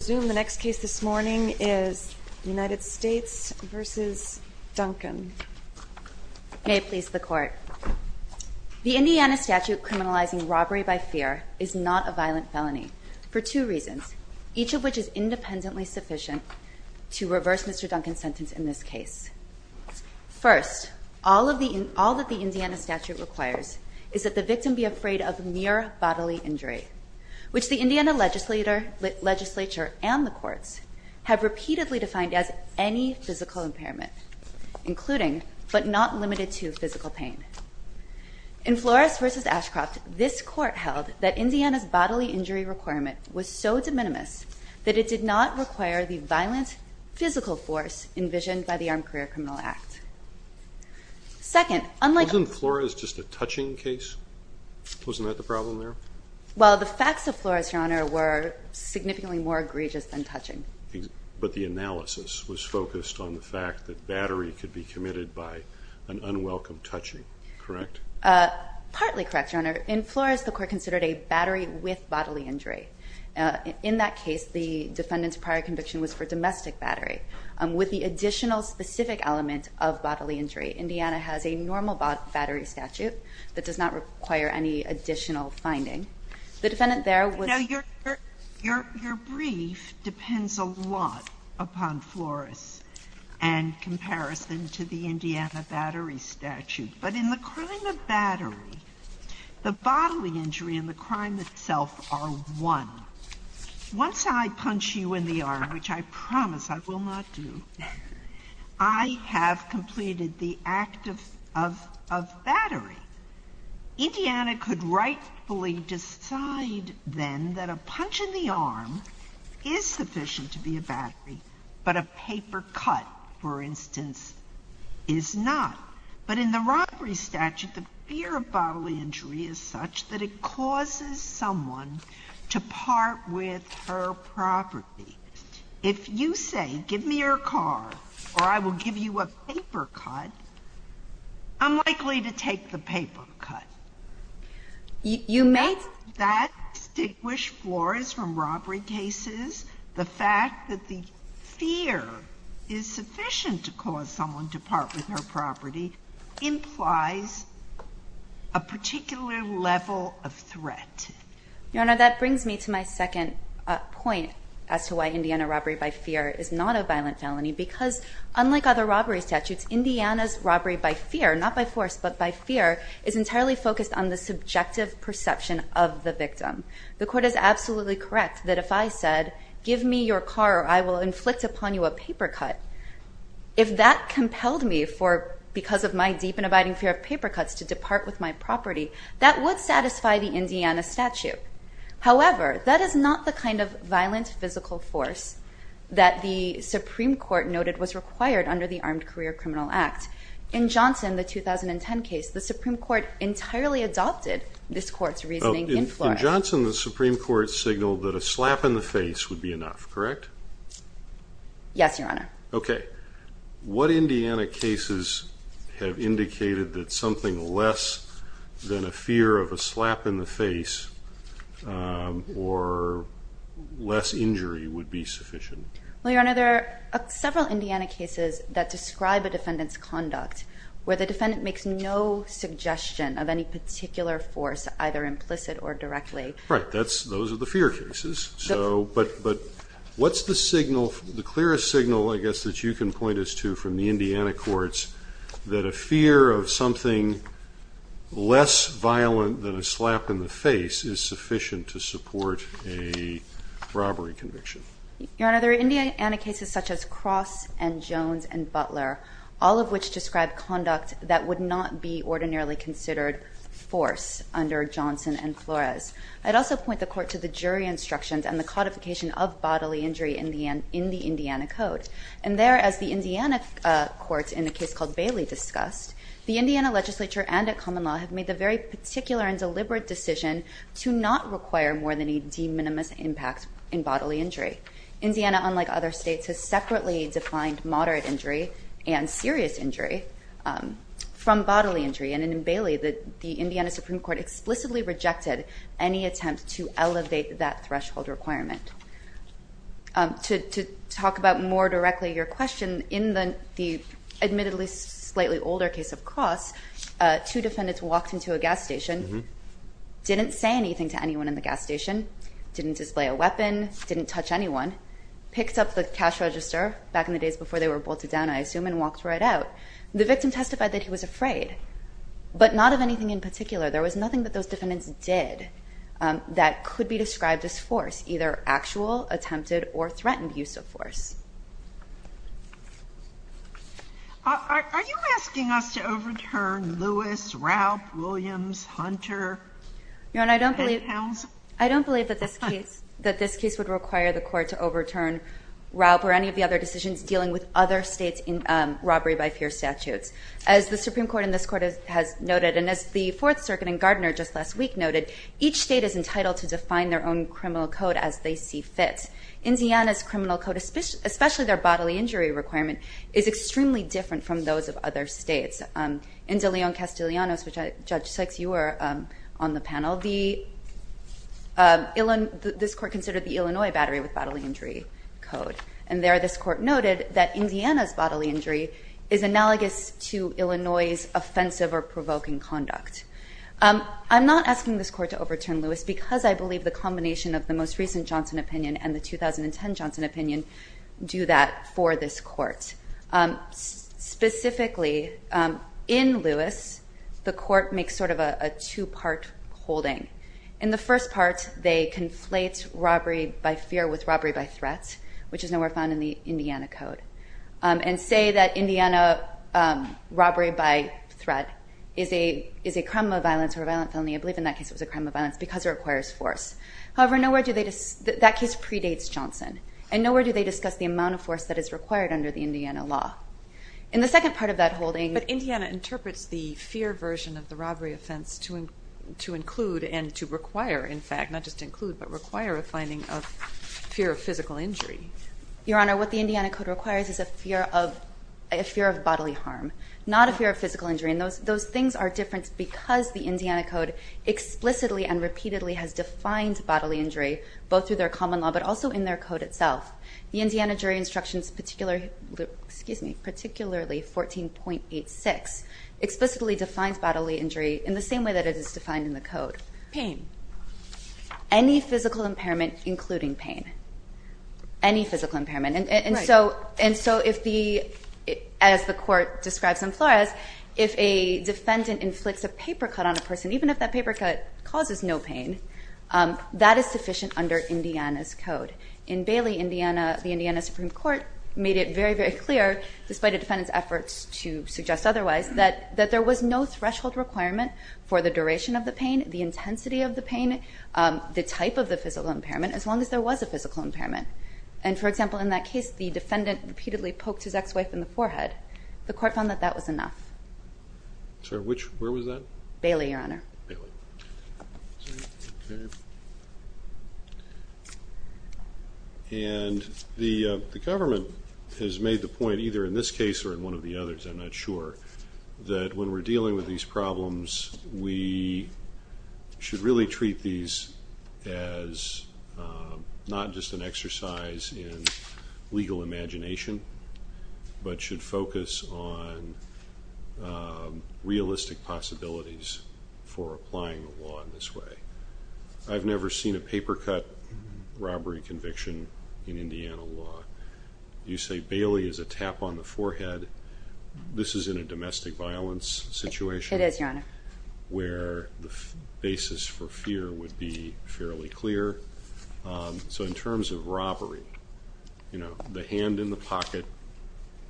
The Indiana statute criminalizing robbery by fear is not a violent felony for two reasons, each of which is independently sufficient to reverse Mr. Duncan's sentence in this case. First, all that the Indiana statute requires is that the victim be afraid of mere bodily injury, which the Indiana legislature and the courts have repeatedly defined as any physical impairment, including but not limited to physical pain. In Flores v. Ashcroft, this court held that Indiana's bodily injury requirement was so de minimis that it did not require the violent physical force envisioned by the Armed Career Criminal Act. Second, unlike- Wasn't Flores just a touching case? Wasn't that the problem there? Well, the facts of Flores, Your Honor, were significantly more egregious than touching. But the analysis was focused on the fact that battery could be committed by an unwelcome touching, correct? Partly correct, Your Honor. In Flores, the court considered a battery with bodily injury. In that case, the defendant's prior conviction was for domestic battery. With the additional specific element of bodily injury, Indiana has a normal battery statute that does not require any additional finding. The defendant there was- Once I punch you in the arm, which I promise I will not do, I have completed the act of battery. Indiana could rightfully decide then that a punch in the arm is sufficient to be a battery, but a paper cut, for instance, is not. But in the robbery statute, the fear of bodily injury is such that it causes someone to part with her property. If you say, give me your car or I will give you a paper cut, I'm likely to take the paper cut. You made- The fact that the fear is sufficient to cause someone to part with her property implies a particular level of threat. Your Honor, that brings me to my second point as to why Indiana robbery by fear is not a violent felony. Because unlike other robbery statutes, Indiana's robbery by fear, not by force, but by fear, is entirely focused on the subjective perception of the victim. The court is absolutely correct that if I said, give me your car or I will inflict upon you a paper cut, if that compelled me because of my deep and abiding fear of paper cuts to depart with my property, that would satisfy the Indiana statute. However, that is not the kind of violent physical force that the Supreme Court noted was required under the Armed Career Criminal Act. In Johnson, the 2010 case, the Supreme Court entirely adopted this court's reasoning in Florida. In Johnson, the Supreme Court signaled that a slap in the face would be enough, correct? Yes, Your Honor. Okay. What Indiana cases have indicated that something less than a fear of a slap in the face or less injury would be sufficient? Well, Your Honor, there are several Indiana cases that describe a defendant's conduct where the defendant makes no suggestion of any particular force, either implicit or directly. Right. Those are the fear cases. But what's the signal, the clearest signal, I guess, that you can point us to from the Indiana courts that a fear of something less violent than a slap in the face is sufficient to support a robbery conviction? Your Honor, there are Indiana cases such as Cross and Jones and Butler, all of which describe conduct that would not be ordinarily considered force under Johnson and Flores. I'd also point the Court to the jury instructions and the codification of bodily injury in the Indiana Code. And there, as the Indiana courts in a case called Bailey discussed, the Indiana legislature and a common law have made the very particular and deliberate decision to not require more than a de minimis impact in bodily injury. Indiana, unlike other states, has separately defined moderate injury and serious injury from bodily injury. And in Bailey, the Indiana Supreme Court explicitly rejected any attempt to elevate that threshold requirement. To talk about more directly your question, in the admittedly slightly older case of Cross, two defendants walked into a gas station, didn't say anything to anyone in the gas station, didn't display a weapon, didn't touch anyone, picked up the cash register back in the days before they were bolted down, I assume, and walked right out. The victim testified that he was afraid, but not of anything in particular. There was nothing that those defendants did that could be described as force, either actual, attempted, or threatened use of force. Are you asking us to overturn Lewis, Raup, Williams, Hunter, and Houns? Your Honor, I don't believe that this case would require the court to overturn Raup or any of the other decisions dealing with other states' robbery by fear statutes. As the Supreme Court and this Court has noted, and as the Fourth Circuit and Gardner just last week noted, each state is entitled to define their own criminal code as they see fit. Indiana's criminal code, especially their bodily injury requirement, is extremely different from those of other states. In De Leon-Castellanos, which Judge Sykes, you were on the panel, this Court considered the Illinois battery with bodily injury code. And there this Court noted that Indiana's bodily injury is analogous to Illinois's offensive or provoking conduct. I'm not asking this Court to overturn Lewis because I believe the combination of the most recent Johnson opinion and the 2010 Johnson opinion do that for this Court. Specifically, in Lewis, the Court makes sort of a two-part holding. In the first part, they conflate robbery by fear with robbery by threat, which is nowhere found in the Indiana code, and say that Indiana robbery by threat is a crime of violence or a violent felony. I believe in that case it was a crime of violence because it requires force. However, that case predates Johnson, and nowhere do they discuss the amount of force that is required under the Indiana law. In the second part of that holding- But Indiana interprets the fear version of the robbery offense to include and to require, in fact, not just include, but require a finding of fear of physical injury. Your Honor, what the Indiana code requires is a fear of bodily harm, not a fear of physical injury. Those things are different because the Indiana code explicitly and repeatedly has defined bodily injury, both through their common law but also in their code itself. The Indiana jury instructions, particularly 14.86, explicitly defines bodily injury in the same way that it is defined in the code. Pain. Any physical impairment, including pain. Any physical impairment. As the court describes in Flores, if a defendant inflicts a paper cut on a person, even if that paper cut causes no pain, that is sufficient under Indiana's code. In Bailey, the Indiana Supreme Court made it very, very clear, despite a defendant's efforts to suggest otherwise, that there was no threshold requirement for the duration of the pain, the intensity of the pain, the type of the physical impairment, as long as there was a physical impairment. And, for example, in that case, the defendant repeatedly poked his ex-wife in the forehead. The court found that that was enough. Sorry, which, where was that? Bailey, Your Honor. Bailey. And the government has made the point, either in this case or in one of the others, I'm not sure, that when we're dealing with these problems, we should really treat these as not just an exercise in legal imagination, but should focus on realistic possibilities for applying the law in this way. I've never seen a paper cut robbery conviction in Indiana law. You say Bailey is a tap on the forehead. This is in a domestic violence situation. It is, Your Honor. Where the basis for fear would be fairly clear. So in terms of robbery, you know, the hand in the pocket,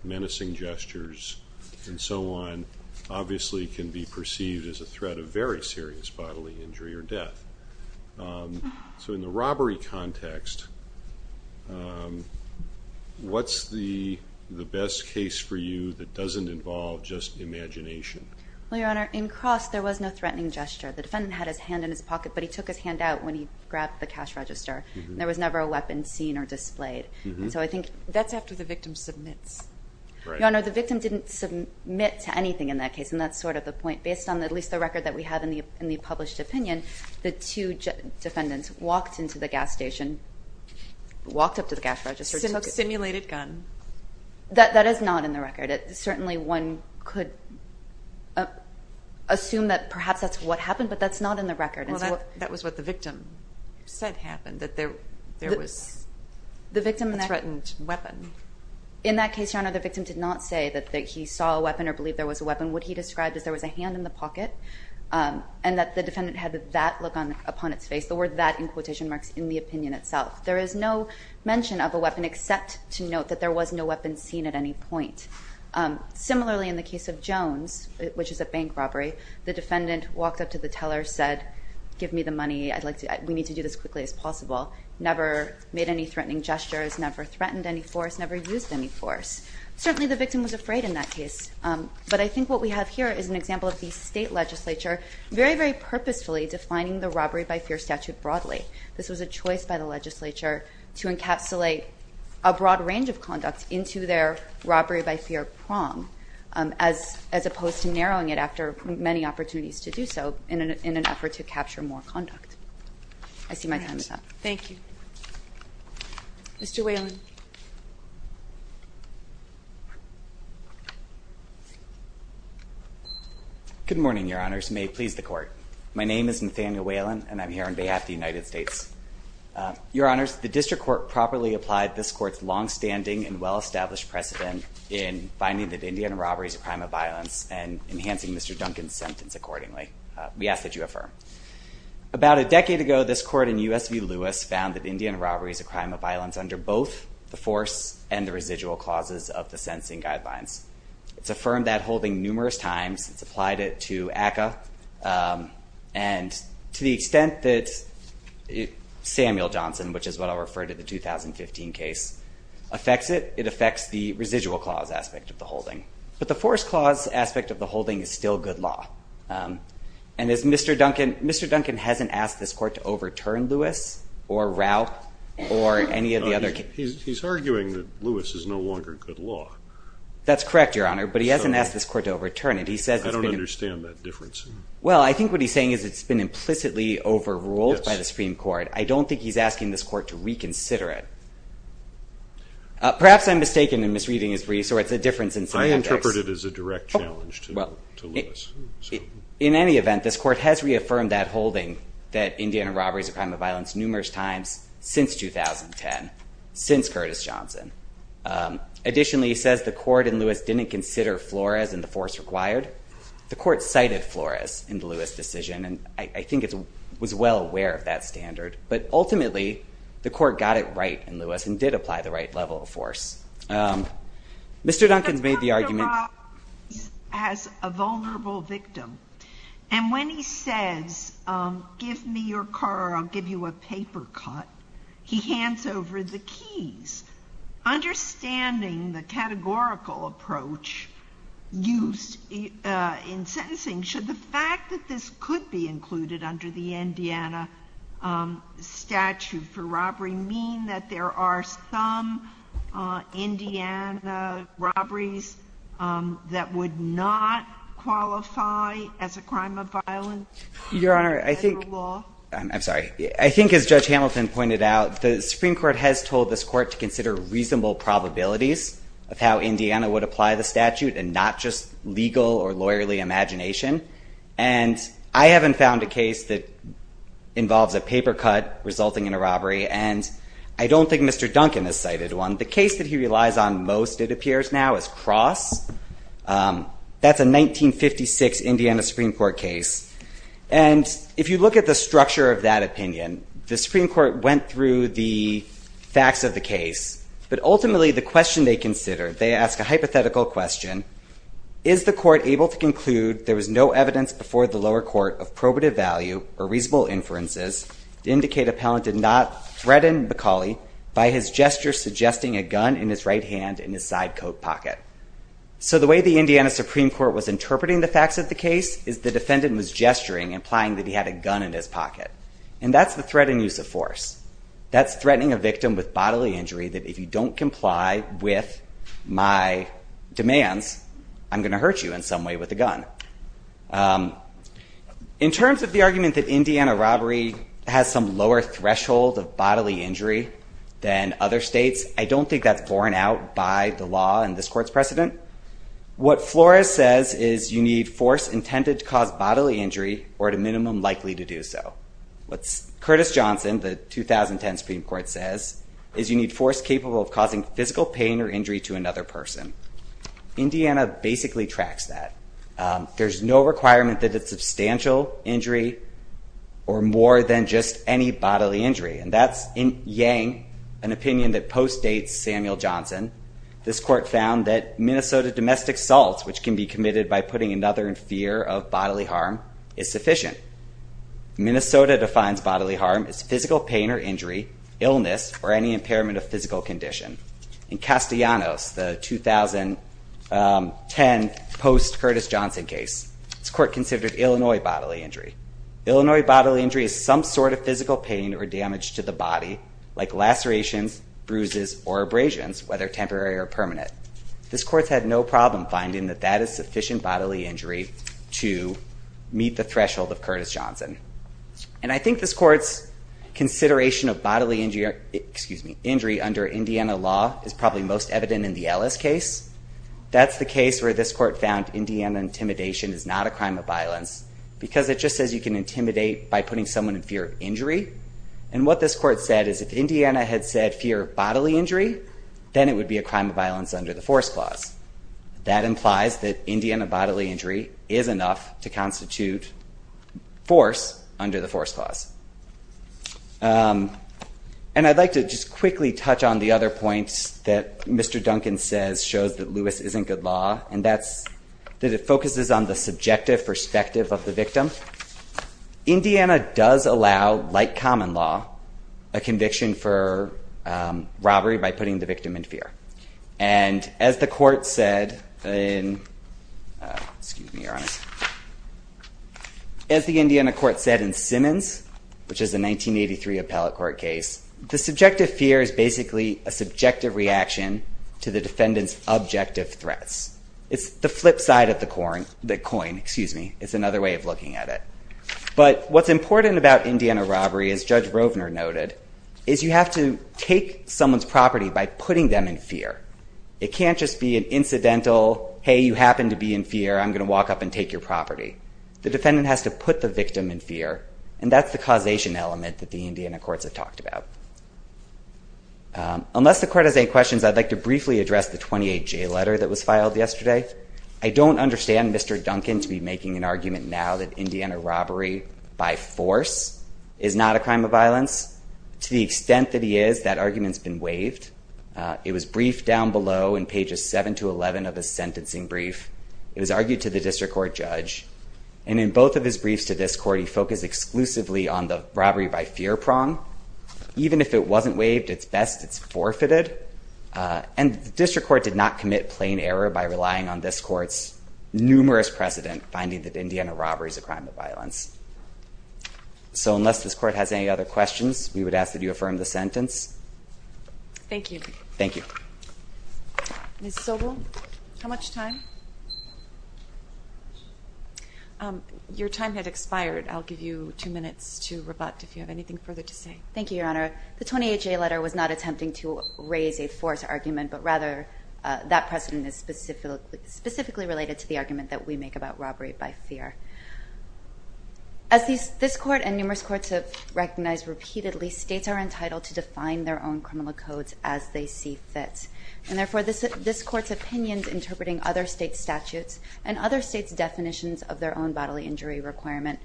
menacing gestures, and so on, obviously can be perceived as a threat of very serious bodily injury or death. So in the robbery context, what's the best case for you that doesn't involve just imagination? Well, Your Honor, in cross, there was no threatening gesture. The defendant had his hand in his pocket, but he took his hand out when he grabbed the cash register. There was never a weapon seen or displayed. That's after the victim submits. Your Honor, the victim didn't submit to anything in that case, and that's sort of the point. Based on at least the record that we have in the published opinion, the two defendants walked into the gas station, walked up to the cash register. Simulated gun. That is not in the record. Certainly one could assume that perhaps that's what happened, but that's not in the record. Well, that was what the victim said happened, that there was a threatened weapon. In that case, Your Honor, the victim did not say that he saw a weapon or believed there was a weapon. What he described is there was a hand in the pocket and that the defendant had that look upon its face. The word that in quotation marks in the opinion itself. There is no mention of a weapon except to note that there was no weapon seen at any point. Similarly, in the case of Jones, which is a bank robbery, the defendant walked up to the teller, said, Give me the money. We need to do this as quickly as possible. Never made any threatening gestures, never threatened any force, never used any force. Certainly the victim was afraid in that case, but I think what we have here is an example of the state legislature very, very purposefully defining the robbery by fear statute broadly. This was a choice by the legislature to encapsulate a broad range of conduct into their robbery by fear prong, as opposed to narrowing it after many opportunities to do so in an effort to capture more conduct. I see my time is up. Thank you. Mr. Whalen. Good morning, your honors. May it please the court. My name is Nathaniel Whalen, and I'm here on behalf of the United States. Your honors, the district court properly applied this court's longstanding and well-established precedent in finding that Indian robberies are a crime of violence and enhancing Mr. Duncan's sentence accordingly. We ask that you affirm. About a decade ago, this court in U.S. v. Lewis found that Indian robbery is a crime of violence under both the force and the residual clauses of the sentencing guidelines. It's affirmed that holding numerous times. It's applied it to ACCA. And to the extent that Samuel Johnson, which is what I'll refer to the 2015 case, affects it, it affects the residual clause aspect of the holding. But the force clause aspect of the holding is still good law. And Mr. Duncan hasn't asked this court to overturn Lewis or Raup or any of the other cases. He's arguing that Lewis is no longer good law. That's correct, your honor, but he hasn't asked this court to overturn it. I don't understand that difference. Well, I think what he's saying is it's been implicitly overruled by the Supreme Court. I don't think he's asking this court to reconsider it. Perhaps I'm mistaken in misreading his briefs or it's a difference in semantics. Well, I interpret it as a direct challenge to Lewis. In any event, this court has reaffirmed that holding that Indian robbery is a crime of violence numerous times since 2010, since Curtis Johnson. Additionally, he says the court in Lewis didn't consider Flores and the force required. The court cited Flores in the Lewis decision, and I think it was well aware of that standard. But ultimately, the court got it right in Lewis and did apply the right level of force. Mr. Duncan's made the argument. But let's talk about as a vulnerable victim. And when he says give me your car or I'll give you a paper cut, he hands over the keys. Understanding the categorical approach used in sentencing, should the fact that this could be included under the Indiana statute for robbery mean that there are some Indiana robberies that would not qualify as a crime of violence under law? Your Honor, I think as Judge Hamilton pointed out, the Supreme Court has told this court to consider reasonable probabilities of how Indiana would apply the statute and not just legal or lawyerly imagination. And I haven't found a case that involves a paper cut resulting in a robbery. And I don't think Mr. Duncan has cited one. The case that he relies on most, it appears now, is Cross. That's a 1956 Indiana Supreme Court case. And if you look at the structure of that opinion, the Supreme Court went through the facts of the case. But ultimately, the question they consider, they ask a hypothetical question, is the court able to conclude there was no evidence before the lower court of probative value or reasonable inferences to indicate a pellant did not threaten McCauley by his gesture suggesting a gun in his right hand in his side coat pocket? So the way the Indiana Supreme Court was interpreting the facts of the case is the defendant was gesturing, implying that he had a gun in his pocket. And that's the threat in use of force. That's threatening a victim with bodily injury that if you don't comply with my demands, I'm going to hurt you in some way with a gun. In terms of the argument that Indiana robbery has some lower threshold of bodily injury than other states, I don't think that's borne out by the law in this court's precedent. What Flores says is you need force intended to cause bodily injury or at a minimum likely to do so. What Curtis Johnson, the 2010 Supreme Court, says is you need force capable of causing physical pain or injury to another person. Indiana basically tracks that. And that's in Yang, an opinion that post-dates Samuel Johnson. This court found that Minnesota domestic assaults, which can be committed by putting another in fear of bodily harm, is sufficient. Minnesota defines bodily harm as physical pain or injury, illness, or any impairment of physical condition. In Castellanos, the 2010 post-Curtis Johnson case, this court considered Illinois bodily injury. Illinois bodily injury is some sort of physical pain or damage to the body, like lacerations, bruises, or abrasions, whether temporary or permanent. This court had no problem finding that that is sufficient bodily injury to meet the threshold of Curtis Johnson. And I think this court's consideration of bodily injury under Indiana law is probably most evident in the Ellis case. That's the case where this court found Indiana intimidation is not a crime of violence. It says you can intimidate by putting someone in fear of injury. And what this court said is if Indiana had said fear of bodily injury, then it would be a crime of violence under the force clause. That implies that Indiana bodily injury is enough to constitute force under the force clause. And I'd like to just quickly touch on the other points that Mr. Duncan says shows that Lewis isn't good law, and that's that it focuses on the subjective perspective of the victim. Indiana does allow, like common law, a conviction for robbery by putting the victim in fear. And as the court said in Simmons, which is a 1983 appellate court case, the subjective fear is basically a subjective reaction to the defendant's objective threats. It's the flip side of the coin, excuse me. It's another way of looking at it. But what's important about Indiana robbery, as Judge Rovner noted, is you have to take someone's property by putting them in fear. It can't just be an incidental, hey, you happen to be in fear, I'm going to walk up and take your property. The defendant has to put the victim in fear, and that's the causation element that the Indiana courts have talked about. Unless the court has any questions, I'd like to briefly address the 28J letter that was filed yesterday. I don't understand Mr. Duncan to be making an argument now that Indiana robbery by force is not a crime of violence. To the extent that he is, that argument's been waived. It was briefed down below in pages 7 to 11 of the sentencing brief. It was argued to the district court judge. And in both of his briefs to this court, he focused exclusively on the robbery by fear prong. Even if it wasn't waived, it's best it's forfeited. And the district court did not commit plain error by relying on this court's numerous precedent finding that Indiana robbery is a crime of violence. So unless this court has any other questions, we would ask that you affirm the sentence. Thank you. Thank you. Ms. Sobel, how much time? Your time had expired. I'll give you two minutes to rebut if you have anything further to say. Thank you, Your Honor. The 20HA letter was not attempting to raise a force argument, but rather that precedent is specifically related to the argument that we make about robbery by fear. As this court and numerous courts have recognized repeatedly, states are entitled to define their own criminal codes as they see fit. And therefore, this court's opinions interpreting other states' statutes and other states' definitions of their own bodily injury requirement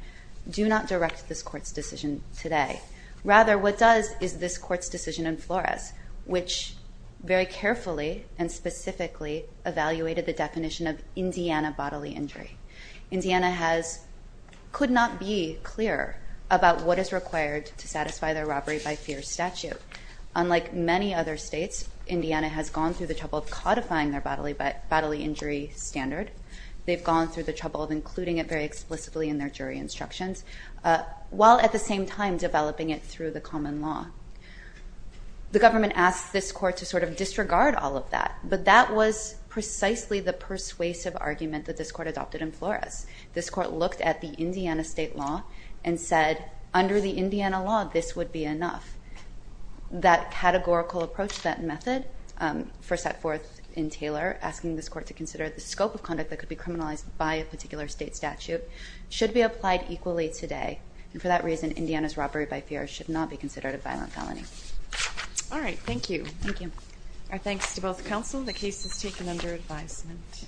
do not direct this court's decision today. Rather, what does is this court's decision in Flores, which very carefully and specifically evaluated the definition of Indiana bodily injury. Indiana could not be clearer about what is required to satisfy their robbery by fear statute. Unlike many other states, Indiana has gone through the trouble of codifying their bodily injury standard. They've gone through the trouble of including it very explicitly in their statute and developing it through the common law. The government asked this court to sort of disregard all of that, but that was precisely the persuasive argument that this court adopted in Flores. This court looked at the Indiana state law and said, under the Indiana law, this would be enough. That categorical approach, that method, first set forth in Taylor, asking this court to consider the scope of conduct that could be criminalized by a particular state statute, should be applied equally today. And for that reason, Indiana's robbery by fear should not be considered a violent felony. All right, thank you. Thank you. Our thanks to both counsel. The case is taken under advisement.